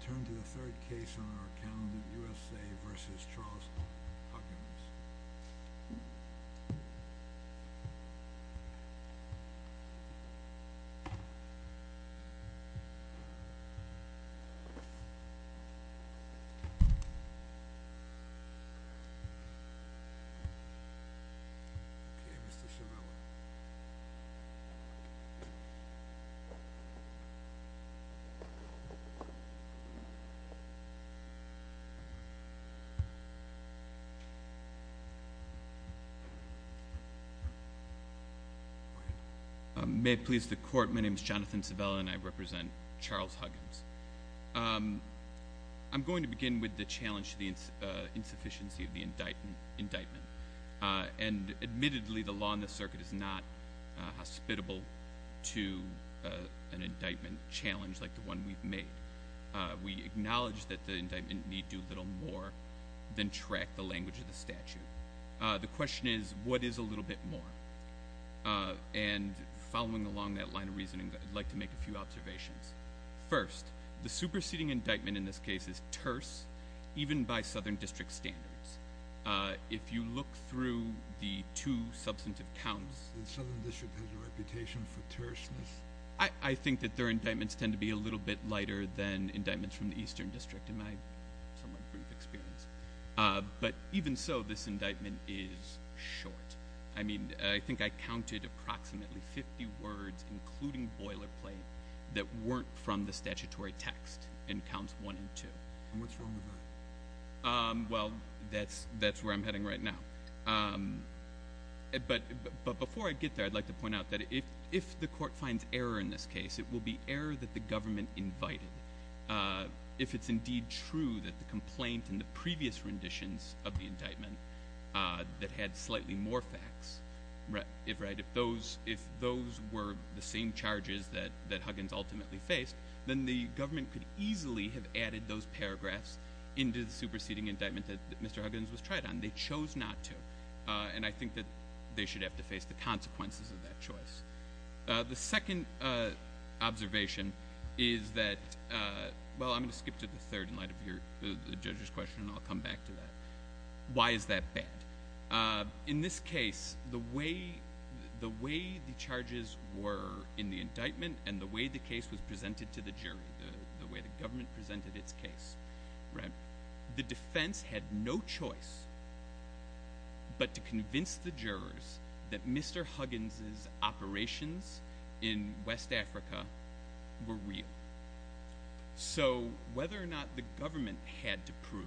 Turn to the third case on our calendar, U.S.A. v. Charles Huckabees. Okay, Mr. Cervella. May it please the court, my name is Jonathan Cervella and I represent Charles Huckabees. I'm going to begin with the challenge to the insufficiency of the indictment. And admittedly the law in this circuit is not hospitable to an indictment challenge like the one we've made. We acknowledge that the indictment need do little more than track the language of the statute. The question is, what is a little bit more? And following along that line of reasoning, I'd like to make a few observations. First, the superseding indictment in this case is terse, even by Southern District standards. If you look through the two substantive counts... The Southern District has a reputation for terseness. I think that their indictments tend to be a little bit lighter than indictments from the Eastern District in my somewhat brief experience. But even so, this indictment is short. I mean, I think I counted approximately 50 words, including boilerplate, that weren't from the statutory text in counts one and two. And what's wrong with that? Well, that's where I'm heading right now. But before I get there, I'd like to point out that if the court finds error in this case, it will be error that the government invited. If it's indeed true that the complaint in the previous renditions of the indictment that had slightly more facts, if those were the same charges that Huggins ultimately faced, then the government could easily have added those paragraphs into the superseding indictment that Mr. Huggins was tried on. They chose not to, and I think that they should have to face the consequences of that choice. The second observation is that... Well, I'm going to skip to the third in light of the judge's question, and I'll come back to that. Why is that bad? In this case, the way the charges were in the indictment and the way the case was presented to the jury, the way the government presented its case, the defense had no choice but to convince the jurors that Mr. Huggins' operations in West Africa were real. So whether or not the government had to prove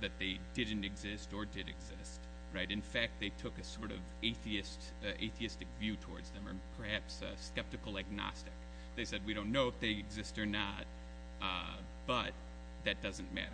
that they didn't exist or did exist, in fact, they took a sort of atheistic view towards them or perhaps a skeptical agnostic. They said, we don't know if they exist or not, but that doesn't matter.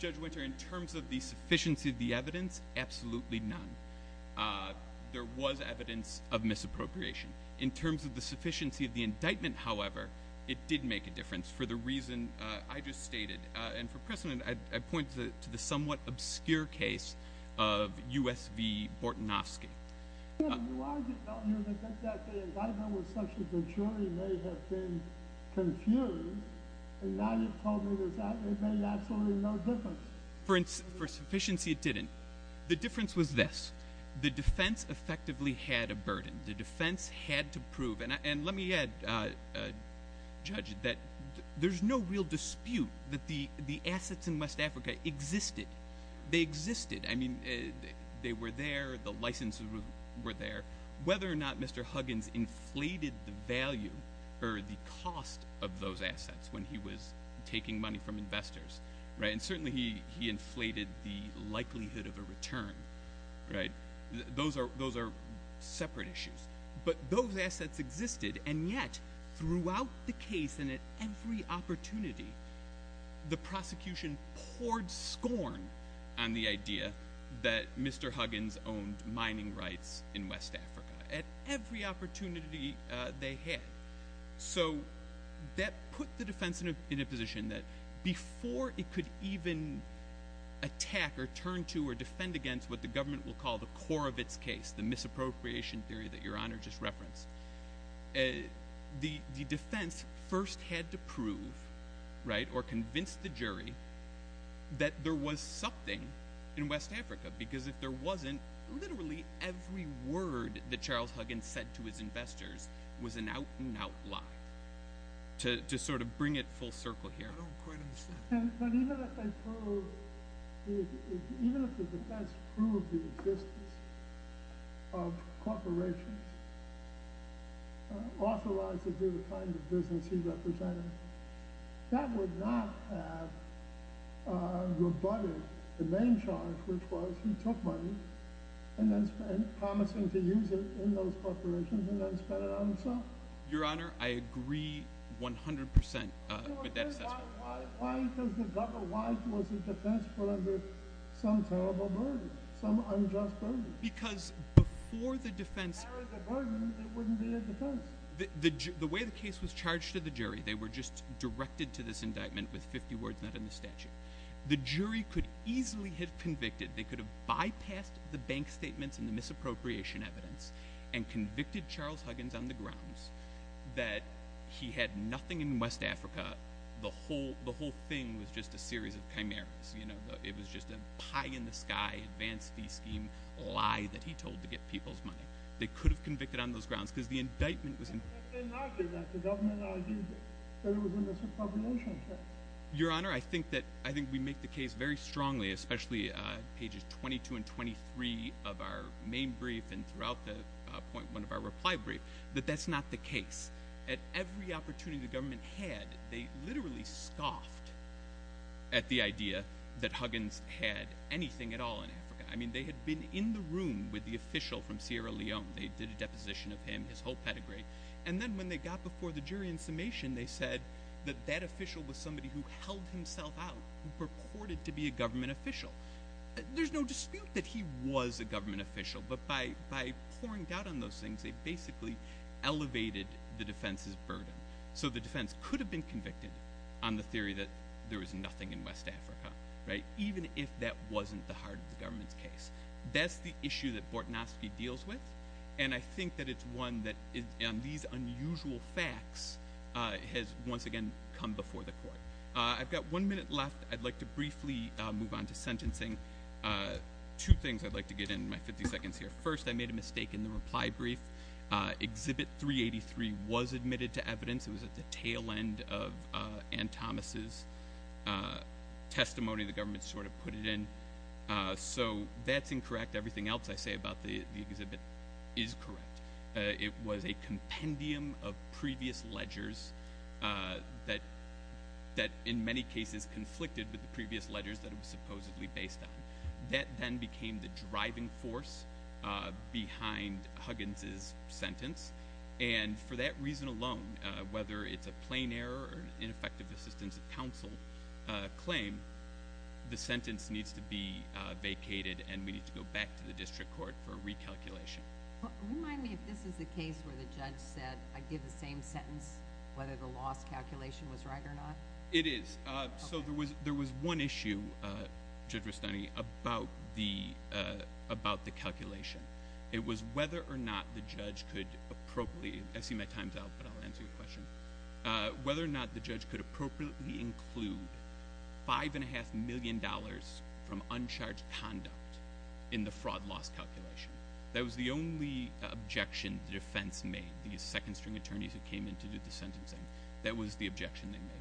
Judge Winter, in terms of the sufficiency of the evidence, absolutely none. There was evidence of misappropriation. In terms of the sufficiency of the indictment, however, it did make a difference for the reason I just stated. And for precedent, I point to the somewhat obscure case of U.S. v. Bortnowski. For sufficiency, it didn't. The difference was this. The defense effectively had a burden. The defense had to prove. And let me add, Judge, that there's no real dispute that the assets in West Africa existed. They existed. I mean, they were there. The licenses were there. Whether or not Mr. Huggins inflated the value or the cost of those assets when he was taking money from investors, and certainly he inflated the likelihood of a return, those are separate issues. But those assets existed, and yet, throughout the case and at every opportunity, the prosecution poured scorn on the idea that Mr. Huggins owned mining rights in West Africa, at every opportunity they had. So that put the defense in a position that before it could even attack or turn to or defend against what the government will call the core of its case, the misappropriation theory that Your Honor just referenced, the defense first had to prove or convince the jury that there was something in West Africa, because if there wasn't, literally every word that Charles Huggins said to his investors was an out-and-out lie, to sort of bring it full circle here. I don't quite understand. Even if the defense proved the existence of corporations authorized to do the kind of business he represented, that would not have rebutted the main charge, which was he took money, and then spent it, promising to use it in those corporations, and then spent it on himself. Your Honor, I agree 100% with that assessment. Why was the defense put under some terrible burden, some unjust burden? Because before the defense… If there was a burden, it wouldn't be a defense. The way the case was charged to the jury, they were just directed to this indictment with 50 words not in the statute. The jury could easily have convicted. They could have bypassed the bank statements and the misappropriation evidence and convicted Charles Huggins on the grounds that he had nothing in West Africa. The whole thing was just a series of chimeras. It was just a pie-in-the-sky advance fee scheme lie that he told to get people's money. They could have convicted on those grounds because the indictment was… But they argued that. The government argued that it was a misappropriation case. Your Honor, I think we make the case very strongly, especially pages 22 and 23 of our main brief and throughout the point one of our reply brief, that that's not the case. At every opportunity the government had, they literally scoffed at the idea that Huggins had anything at all in Africa. They had been in the room with the official from Sierra Leone. They did a deposition of him, his whole pedigree, and then when they got before the jury in summation, they said that that official was somebody who held himself out, who purported to be a government official. There's no dispute that he was a government official, but by pouring doubt on those things, they basically elevated the defense's burden. The defense could have been convicted on the theory that there was nothing in West Africa, even if that wasn't the heart of the government's case. That's the issue that Bortnowski deals with, and I think that it's one that on these unusual facts has once again come before the court. I've got one minute left. I'd like to briefly move on to sentencing. Two things I'd like to get in my 50 seconds here. First, I made a mistake in the reply brief. Exhibit 383 was admitted to evidence. It was at the tail end of Anne Thomas's testimony. The government sort of put it in, so that's incorrect. Everything else I say about the exhibit is correct. It was a compendium of previous ledgers that in many cases conflicted with the previous ledgers that it was supposedly based on. That then became the driving force behind Huggins's sentence, and for that reason alone, whether it's a plain error or ineffective assistance of counsel claim, the sentence needs to be vacated and we need to go back to the district court for a recalculation. Remind me if this is the case where the judge said, I give the same sentence, whether the loss calculation was right or not. It is. So there was one issue, Judge Rustani, about the calculation. It was whether or not the judge could appropriately, I see my time's up, but I'll answer your question, whether or not the judge could appropriately include $5.5 million from uncharged conduct in the fraud loss calculation. That was the only objection the defense made, the second string attorneys that came in to do the sentencing. That was the objection they made.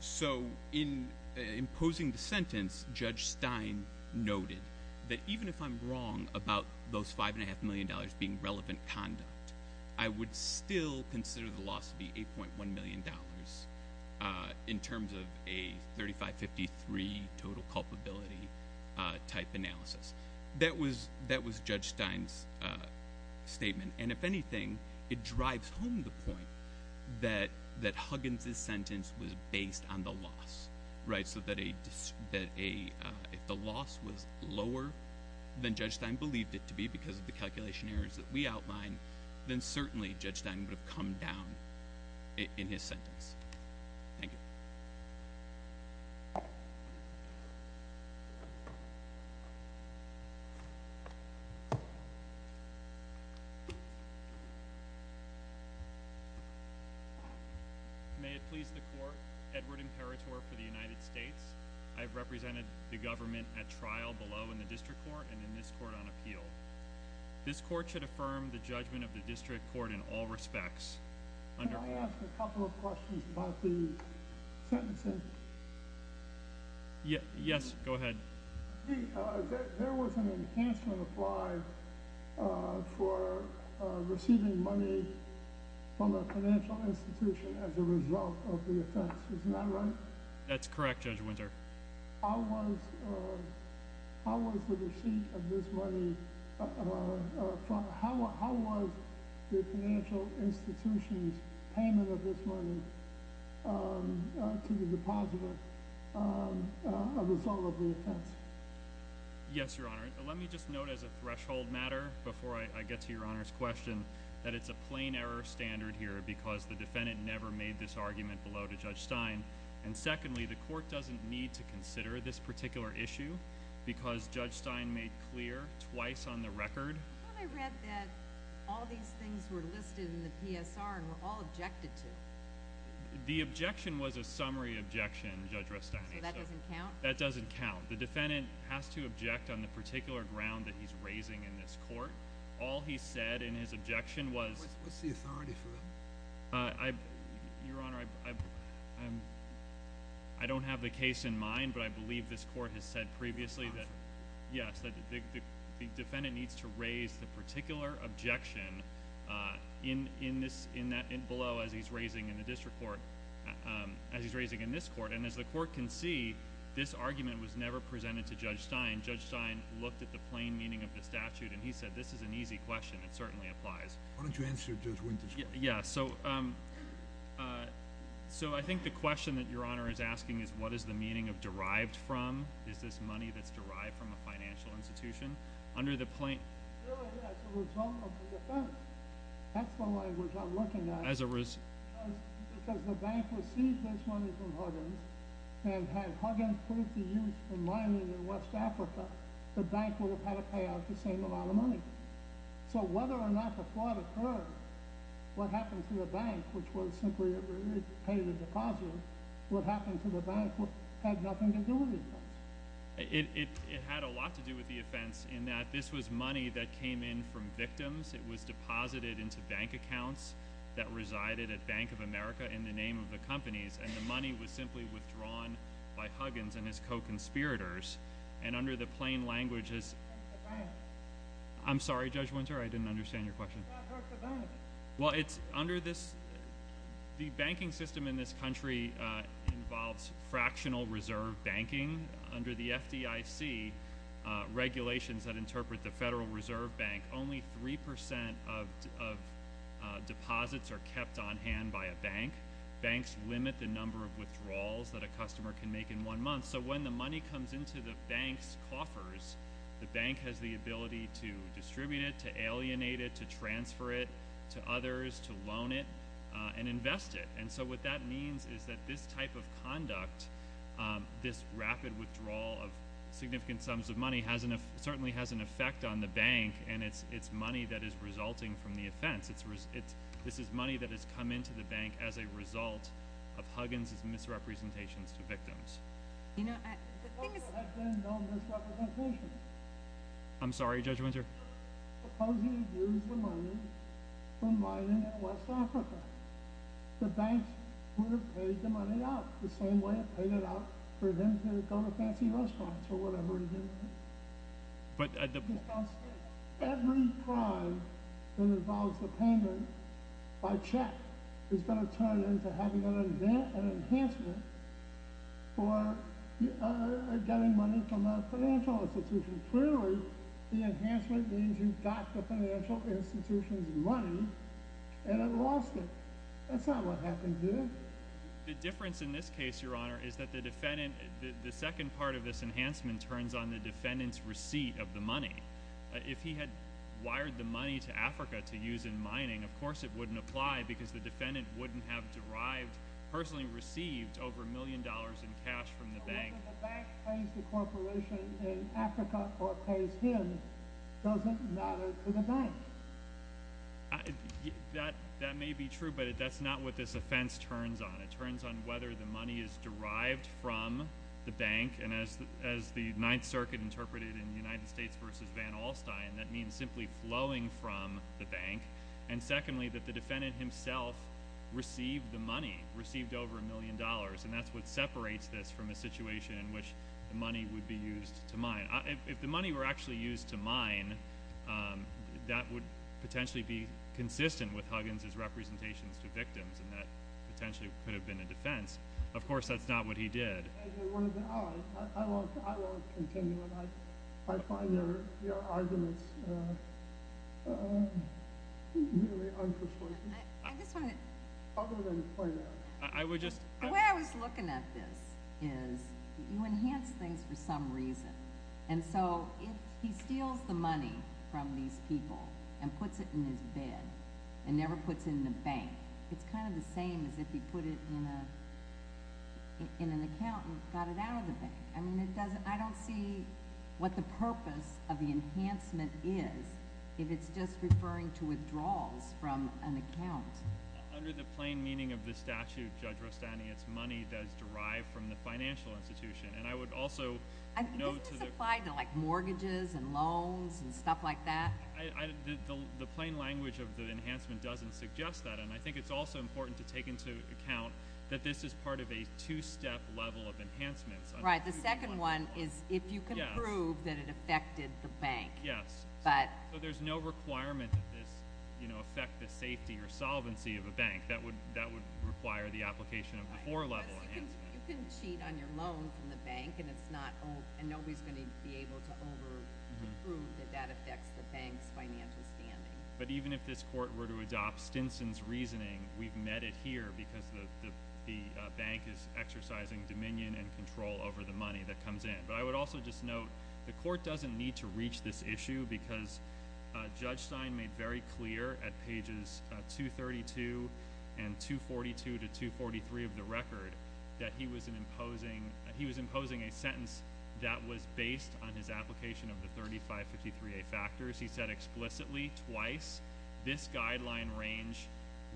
So in imposing the sentence, Judge Stein noted that even if I'm wrong about those $5.5 million being relevant conduct, I would still consider the loss to be $8.1 million in terms of a 3553 total culpability type analysis. And if anything, it drives home the point that Huggins' sentence was based on the loss. So that if the loss was lower than Judge Stein believed it to be because of the calculation errors that we outlined, then certainly Judge Stein would have come down in his sentence. Thank you. May it please the court. Edward Imperatore for the United States. I've represented the government at trial below in the district court and in this court on appeal. This court should affirm the judgment of the district court in all respects. Can I ask a couple of questions about the sentencing? Yes, go ahead. There was an enhancement applied for receiving money from a financial institution as a result of the offense. Isn't that right? That's correct, Judge Winter. How was the financial institution's payment of this money to the depositor a result of the offense? Yes, Your Honor. Let me just note as a threshold matter, before I get to Your Honor's question, that it's a plain error standard here because the defendant never made this argument below to Judge Stein. And secondly, the court doesn't need to consider this particular issue because Judge Stein made clear twice on the record. I thought I read that all these things were listed in the PSR and were all objected to. The objection was a summary objection, Judge Rothstein. So that doesn't count? That doesn't count. The defendant has to object on the particular ground that he's raising in this court. All he said in his objection was… What's the authority for him? Your Honor, I don't have the case in mind, but I believe this court has said previously that the defendant needs to raise the particular objection below as he's raising in this court. And as the court can see, this argument was never presented to Judge Stein. Judge Stein looked at the plain meaning of the statute, and he said this is an easy question. It certainly applies. Why don't you answer, Judge Winter? Yeah. So I think the question that Your Honor is asking is what is the meaning of derived from? Is this money that's derived from a financial institution? Under the plaintiff… Really, as a result of the offense. That's the language I'm looking at. As a result… Because the bank received this money from Huggins, and had Huggins proved the use of mining in West Africa, the bank would have had to pay out the same amount of money. So whether or not the fraud occurred, what happened to the bank, which was simply to pay the deposit, what happened to the bank had nothing to do with the offense. It had a lot to do with the offense in that this was money that came in from victims. It was deposited into bank accounts that resided at Bank of America in the name of the companies. And the money was simply withdrawn by Huggins and his co-conspirators. And under the plain languages… The bank. I'm sorry, Judge Winter. I didn't understand your question. The bank. Well, it's under this… The banking system in this country involves fractional reserve banking. Under the FDIC regulations that interpret the Federal Reserve Bank, only 3% of deposits are kept on hand by a bank. Banks limit the number of withdrawals that a customer can make in one month. So when the money comes into the bank's coffers, the bank has the ability to distribute it, to alienate it, to transfer it to others, to loan it, and invest it. And so what that means is that this type of conduct, this rapid withdrawal of significant sums of money, certainly has an effect on the bank. And it's money that is resulting from the offense. This is money that has come into the bank as a result of Huggins' misrepresentations to victims. There have been no misrepresentations. I'm sorry, Judge Winter. Suppose he had used the money from mining in West Africa. The bank would have paid the money out the same way it paid it out for him to go to fancy restaurants or whatever he did. Every crime that involves a payment by check is going to turn into having an enhancement for getting money from a financial institution. Clearly, the enhancement means you got the financial institution's money and it lost it. That's not what happened, did it? The difference in this case, Your Honor, is that the second part of this enhancement turns on the defendant's receipt of the money. If he had wired the money to Africa to use in mining, of course it wouldn't apply because the defendant wouldn't have derived, personally received, over a million dollars in cash from the bank. Whether the bank pays the corporation in Africa or pays him doesn't matter to the bank. That may be true, but that's not what this offense turns on. It turns on whether the money is derived from the bank. As the Ninth Circuit interpreted in the United States v. Van Alstyne, that means simply flowing from the bank. Secondly, that the defendant himself received the money, received over a million dollars. That's what separates this from a situation in which the money would be used to mine. If the money were actually used to mine, that would potentially be consistent with Huggins' representations to victims. That potentially could have been a defense. Of course, that's not what he did. I won't continue. I find your arguments really unpersuasive. I'll go ahead and play that. The way I was looking at this is you enhance things for some reason. And so if he steals the money from these people and puts it in his bed and never puts it in the bank, it's kind of the same as if he put it in an account and got it out of the bank. I don't see what the purpose of the enhancement is if it's just referring to withdrawals from an account. Under the plain meaning of the statute, Judge Rostani, it's money that is derived from the financial institution. And I would also note to the— This is applied to mortgages and loans and stuff like that. The plain language of the enhancement doesn't suggest that. And I think it's also important to take into account that this is part of a two-step level of enhancements. Right. The second one is if you can prove that it affected the bank. Yes. So there's no requirement that this affect the safety or solvency of a bank. You can cheat on your loan from the bank, and it's not— and nobody's going to be able to overprove that that affects the bank's financial standing. But even if this court were to adopt Stinson's reasoning, we've met it here because the bank is exercising dominion and control over the money that comes in. But I would also just note the court doesn't need to reach this issue because Judge Stein made very clear at pages 232 and 242 to 243 of the record that he was imposing a sentence that was based on his application of the 3553A factors. He said explicitly twice, this guideline range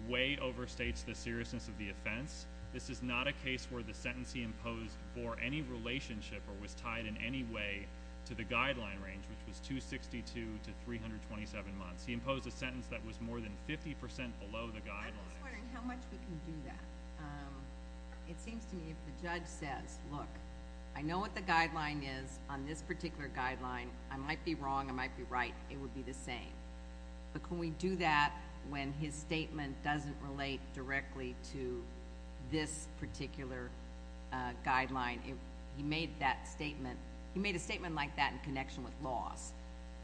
way overstates the seriousness of the offense. This is not a case where the sentence he imposed bore any relationship or was tied in any way to the guideline range, which was 262 to 327 months. He imposed a sentence that was more than 50 percent below the guideline. I'm just wondering how much we can do that. It seems to me if the judge says, look, I know what the guideline is on this particular guideline. I might be wrong. I might be right. It would be the same. But can we do that when his statement doesn't relate directly to this particular guideline? He made that statement. He made a statement like that in connection with laws,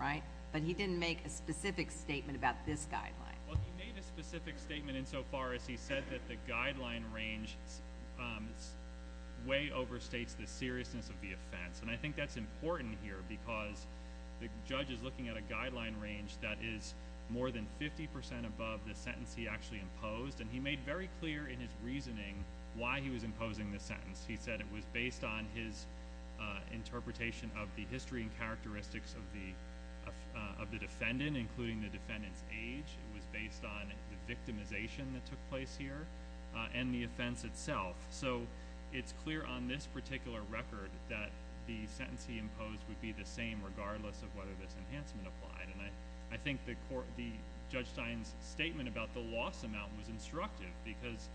right? But he didn't make a specific statement about this guideline. Well, he made a specific statement insofar as he said that the guideline range way overstates the seriousness of the offense. And I think that's important here because the judge is looking at a guideline range that is more than 50 percent above the sentence he actually imposed. And he made very clear in his reasoning why he was imposing this sentence. He said it was based on his interpretation of the history and characteristics of the defendant, including the defendant's age. It was based on the victimization that took place here and the offense itself. So it's clear on this particular record that the sentence he imposed would be the same, regardless of whether this enhancement applied. And I think Judge Stein's statement about the loss amount was instructive because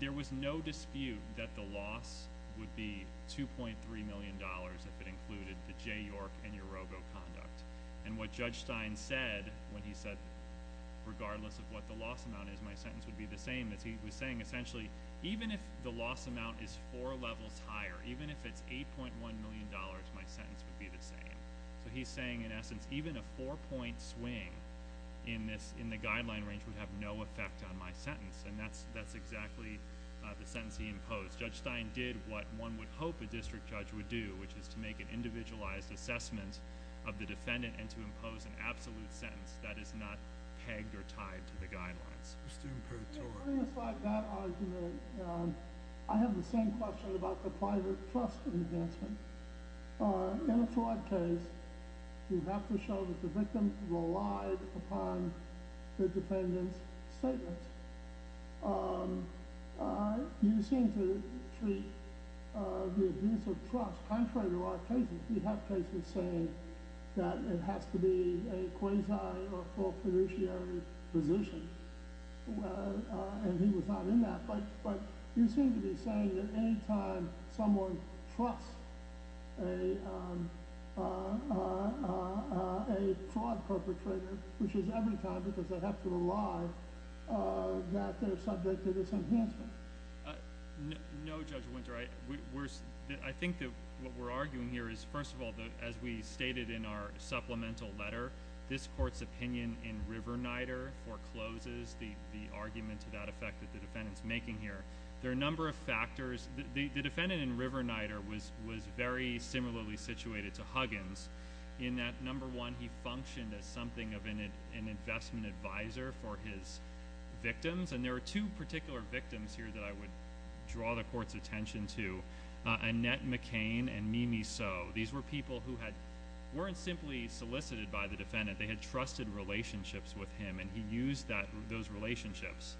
there was no dispute that the loss would be $2.3 million if it included the Jay York and Yorogo conduct. And what Judge Stein said when he said, regardless of what the loss amount is, my sentence would be the same, is he was saying, essentially, even if the loss amount is four levels higher, even if it's $8.1 million, my sentence would be the same. So he's saying, in essence, even a four-point swing in the guideline range would have no effect on my sentence. And that's exactly the sentence he imposed. Judge Stein did what one would hope a district judge would do, which is to make an individualized assessment of the defendant and to impose an absolute sentence that is not pegged or tied to the guidelines. I have the same question about the private trust enhancement. In a fraud case, you have to show that the victim relied upon the defendant's statements. You seem to treat the abuse of trust contrary to our cases. We have cases saying that it has to be a quasi or full fiduciary position, and he was not in that. But you seem to be saying that anytime someone trusts a fraud perpetrator, which is every time because they have to rely, that they're subject to this enhancement. No, Judge Winter. I think that what we're arguing here is, first of all, as we stated in our supplemental letter, this Court's opinion in Riverneiter forecloses the argument to that effect that the defendant's making here. There are a number of factors. The defendant in Riverneiter was very similarly situated to Huggins in that, number one, he functioned as something of an investment advisor for his victims. And there were two particular victims here that I would draw the Court's attention to, Annette McCain and Mimi So. These were people who weren't simply solicited by the defendant. They had trusted relationships with him, and he used those relationships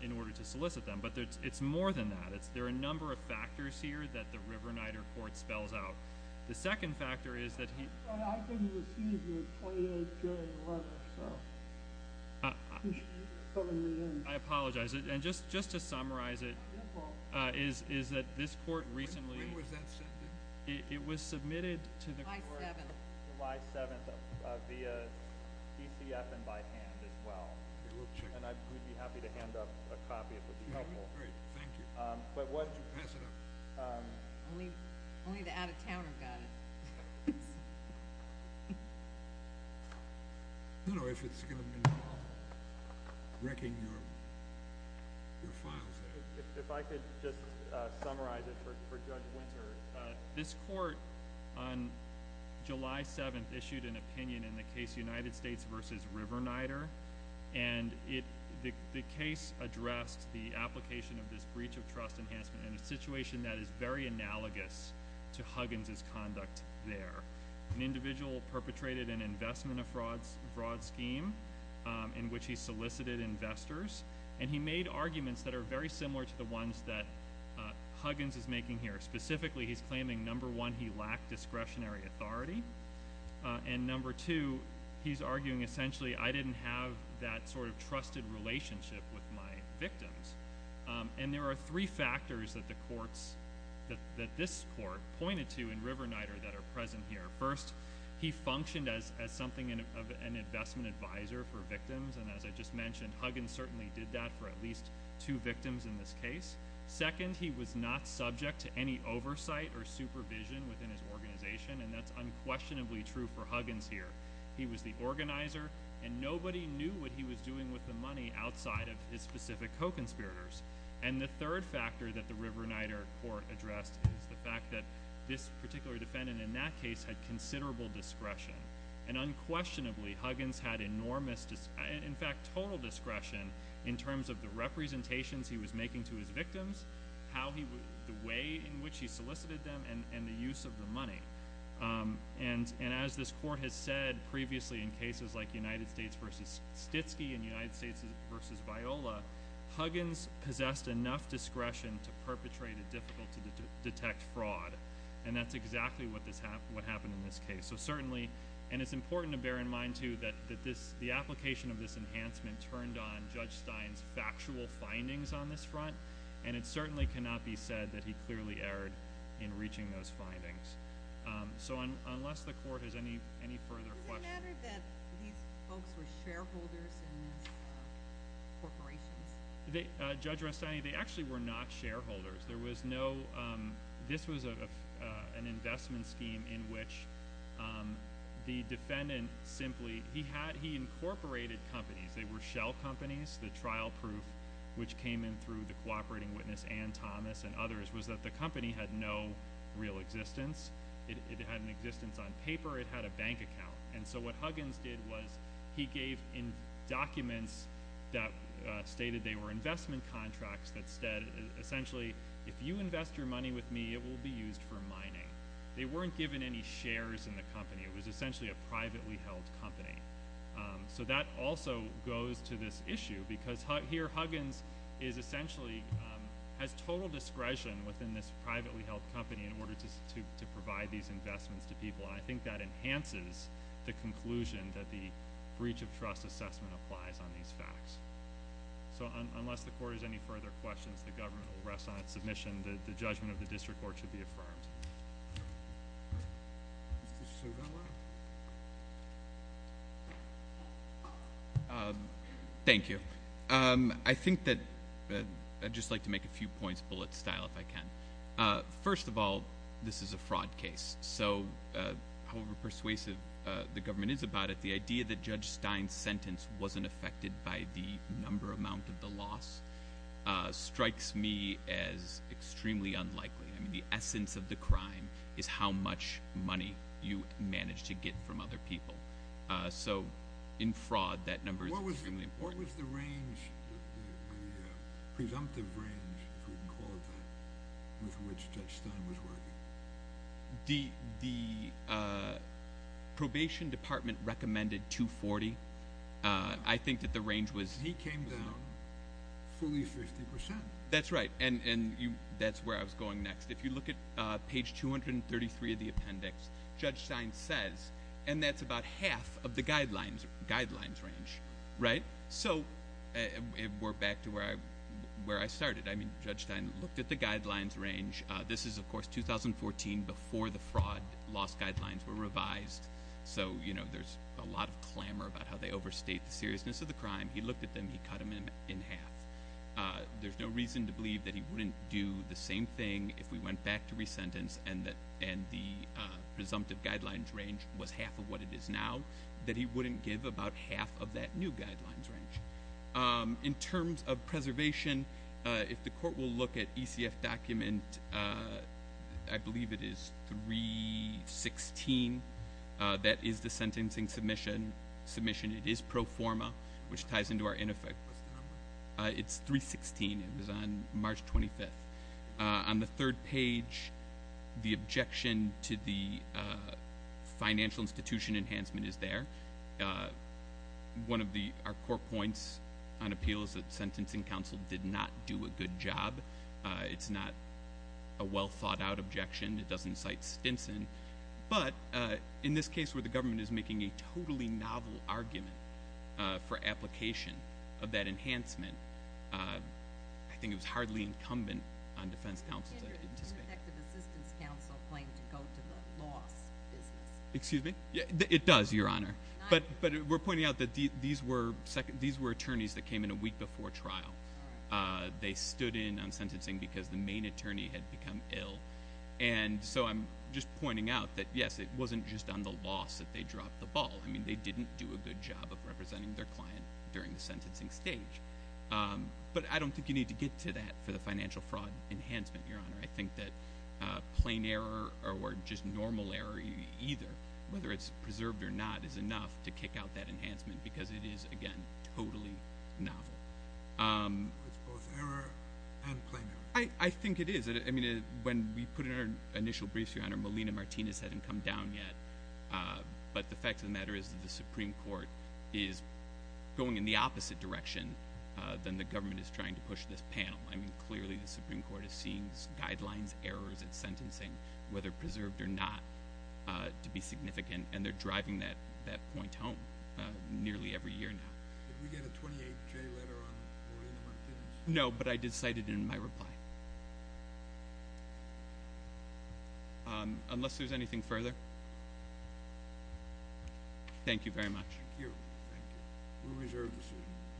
in order to solicit them. But it's more than that. There are a number of factors here that the Riverneiter Court spells out. The second factor is that he— But I didn't receive your 28-J letter, so you should be filling me in. I apologize. And just to summarize it is that this Court recently— When was that sent in? It was submitted to the Court— July 7th. July 7th via PCF and by hand as well. And I would be happy to hand up a copy if that would be helpful. Great. Thank you. But what— Why don't you pass it up? Only the out-of-towner got it. I don't know if it's going to involve wrecking your files there. If I could just summarize it for Judge Winter. This Court on July 7th issued an opinion in the case United States v. Riverneiter, and the case addressed the application of this breach of trust enhancement in a situation that is very analogous to Huggins' conduct there. An individual perpetrated an investment of fraud scheme in which he solicited investors, and he made arguments that are very similar to the ones that Huggins is making here. Specifically, he's claiming, number one, he lacked discretionary authority, and number two, he's arguing, essentially, I didn't have that sort of trusted relationship with my victims. And there are three factors that the courts— that this Court pointed to in Riverneiter that are present here. First, he functioned as something of an investment advisor for victims, and as I just mentioned, Huggins certainly did that for at least two victims in this case. Second, he was not subject to any oversight or supervision within his organization, and that's unquestionably true for Huggins here. He was the organizer, and nobody knew what he was doing with the money outside of his specific co-conspirators. And the third factor that the Riverneiter Court addressed is the fact that this particular defendant in that case had considerable discretion. And unquestionably, Huggins had enormous—in fact, total discretion in terms of the representations he was making to his victims, the way in which he solicited them, and the use of the money. And as this Court has said previously in cases like United States v. Stitsky and United States v. Viola, Huggins possessed enough discretion to perpetrate a difficult to detect fraud, and that's exactly what happened in this case. So certainly—and it's important to bear in mind, too, that the application of this enhancement turned on Judge Stein's factual findings on this front, and it certainly cannot be said that he clearly erred in reaching those findings. So unless the Court has any further questions— Does it matter that these folks were shareholders in these corporations? Judge Restani, they actually were not shareholders. There was no—this was an investment scheme in which the defendant simply— he incorporated companies. They were shell companies. The trial proof, which came in through the cooperating witness, Ann Thomas, and others, was that the company had no real existence. It had an existence on paper. It had a bank account. And so what Huggins did was he gave documents that stated they were investment contracts that said essentially, if you invest your money with me, it will be used for mining. They weren't given any shares in the company. It was essentially a privately held company. So that also goes to this issue because here Huggins is essentially— has total discretion within this privately held company in order to provide these investments to people, and I think that enhances the conclusion that the breach of trust assessment applies on these facts. So unless the Court has any further questions, the government will rest on its submission. The judgment of the district court should be affirmed. Mr. Suvella? Thank you. I think that—I'd just like to make a few points bullet style if I can. First of all, this is a fraud case. So however persuasive the government is about it, the idea that Judge Stein's sentence wasn't affected by the number amount of the loss strikes me as extremely unlikely. I mean, the essence of the crime is how much money you manage to get from other people. So in fraud, that number is extremely important. What was the range, the presumptive range, if we can call it that, with which Judge Stein was working? The probation department recommended 240. I think that the range was— He came down fully 50 percent. That's right, and that's where I was going next. If you look at page 233 of the appendix, Judge Stein says, and that's about half of the guidelines range, right? So we're back to where I started. I mean, Judge Stein looked at the guidelines range. This is, of course, 2014, before the fraud loss guidelines were revised. So there's a lot of clamor about how they overstate the seriousness of the crime. He looked at them. He cut them in half. There's no reason to believe that he wouldn't do the same thing if we went back to resentence and the presumptive guidelines range was half of what it is now, that he wouldn't give about half of that new guidelines range. In terms of preservation, if the court will look at ECF document, I believe it is 316. That is the sentencing submission. It is pro forma, which ties into our in effect. What's the number? It's 316. It was on March 25th. On the third page, the objection to the financial institution enhancement is there. One of our core points on appeal is that sentencing counsel did not do a good job. It's not a well thought out objection. It doesn't cite Stinson. But in this case where the government is making a totally novel argument for application of that enhancement, I think it was hardly incumbent on defense counsel to anticipate. In effect, the assistance counsel claimed to go to the loss business. Excuse me? It does, Your Honor. But we're pointing out that these were attorneys that came in a week before trial. They stood in on sentencing because the main attorney had become ill. I'm just pointing out that, yes, it wasn't just on the loss that they dropped the ball. They didn't do a good job of representing their client during the sentencing stage. But I don't think you need to get to that for the financial fraud enhancement, Your Honor. I think that plain error or just normal error either, whether it's preserved or not, is enough to kick out that enhancement because it is, again, totally novel. It's both error and plain error. I think it is. I mean, when we put in our initial briefs, Your Honor, Molina Martinez hadn't come down yet. But the fact of the matter is that the Supreme Court is going in the opposite direction than the government is trying to push this panel. I mean, clearly the Supreme Court is seeing guidelines, errors in sentencing, whether preserved or not, to be significant. And they're driving that point home nearly every year now. Did we get a 28-J letter on Molina Martinez? No, but I did cite it in my reply. Unless there's anything further? Thank you very much. Thank you. Thank you. We'll reserve this one.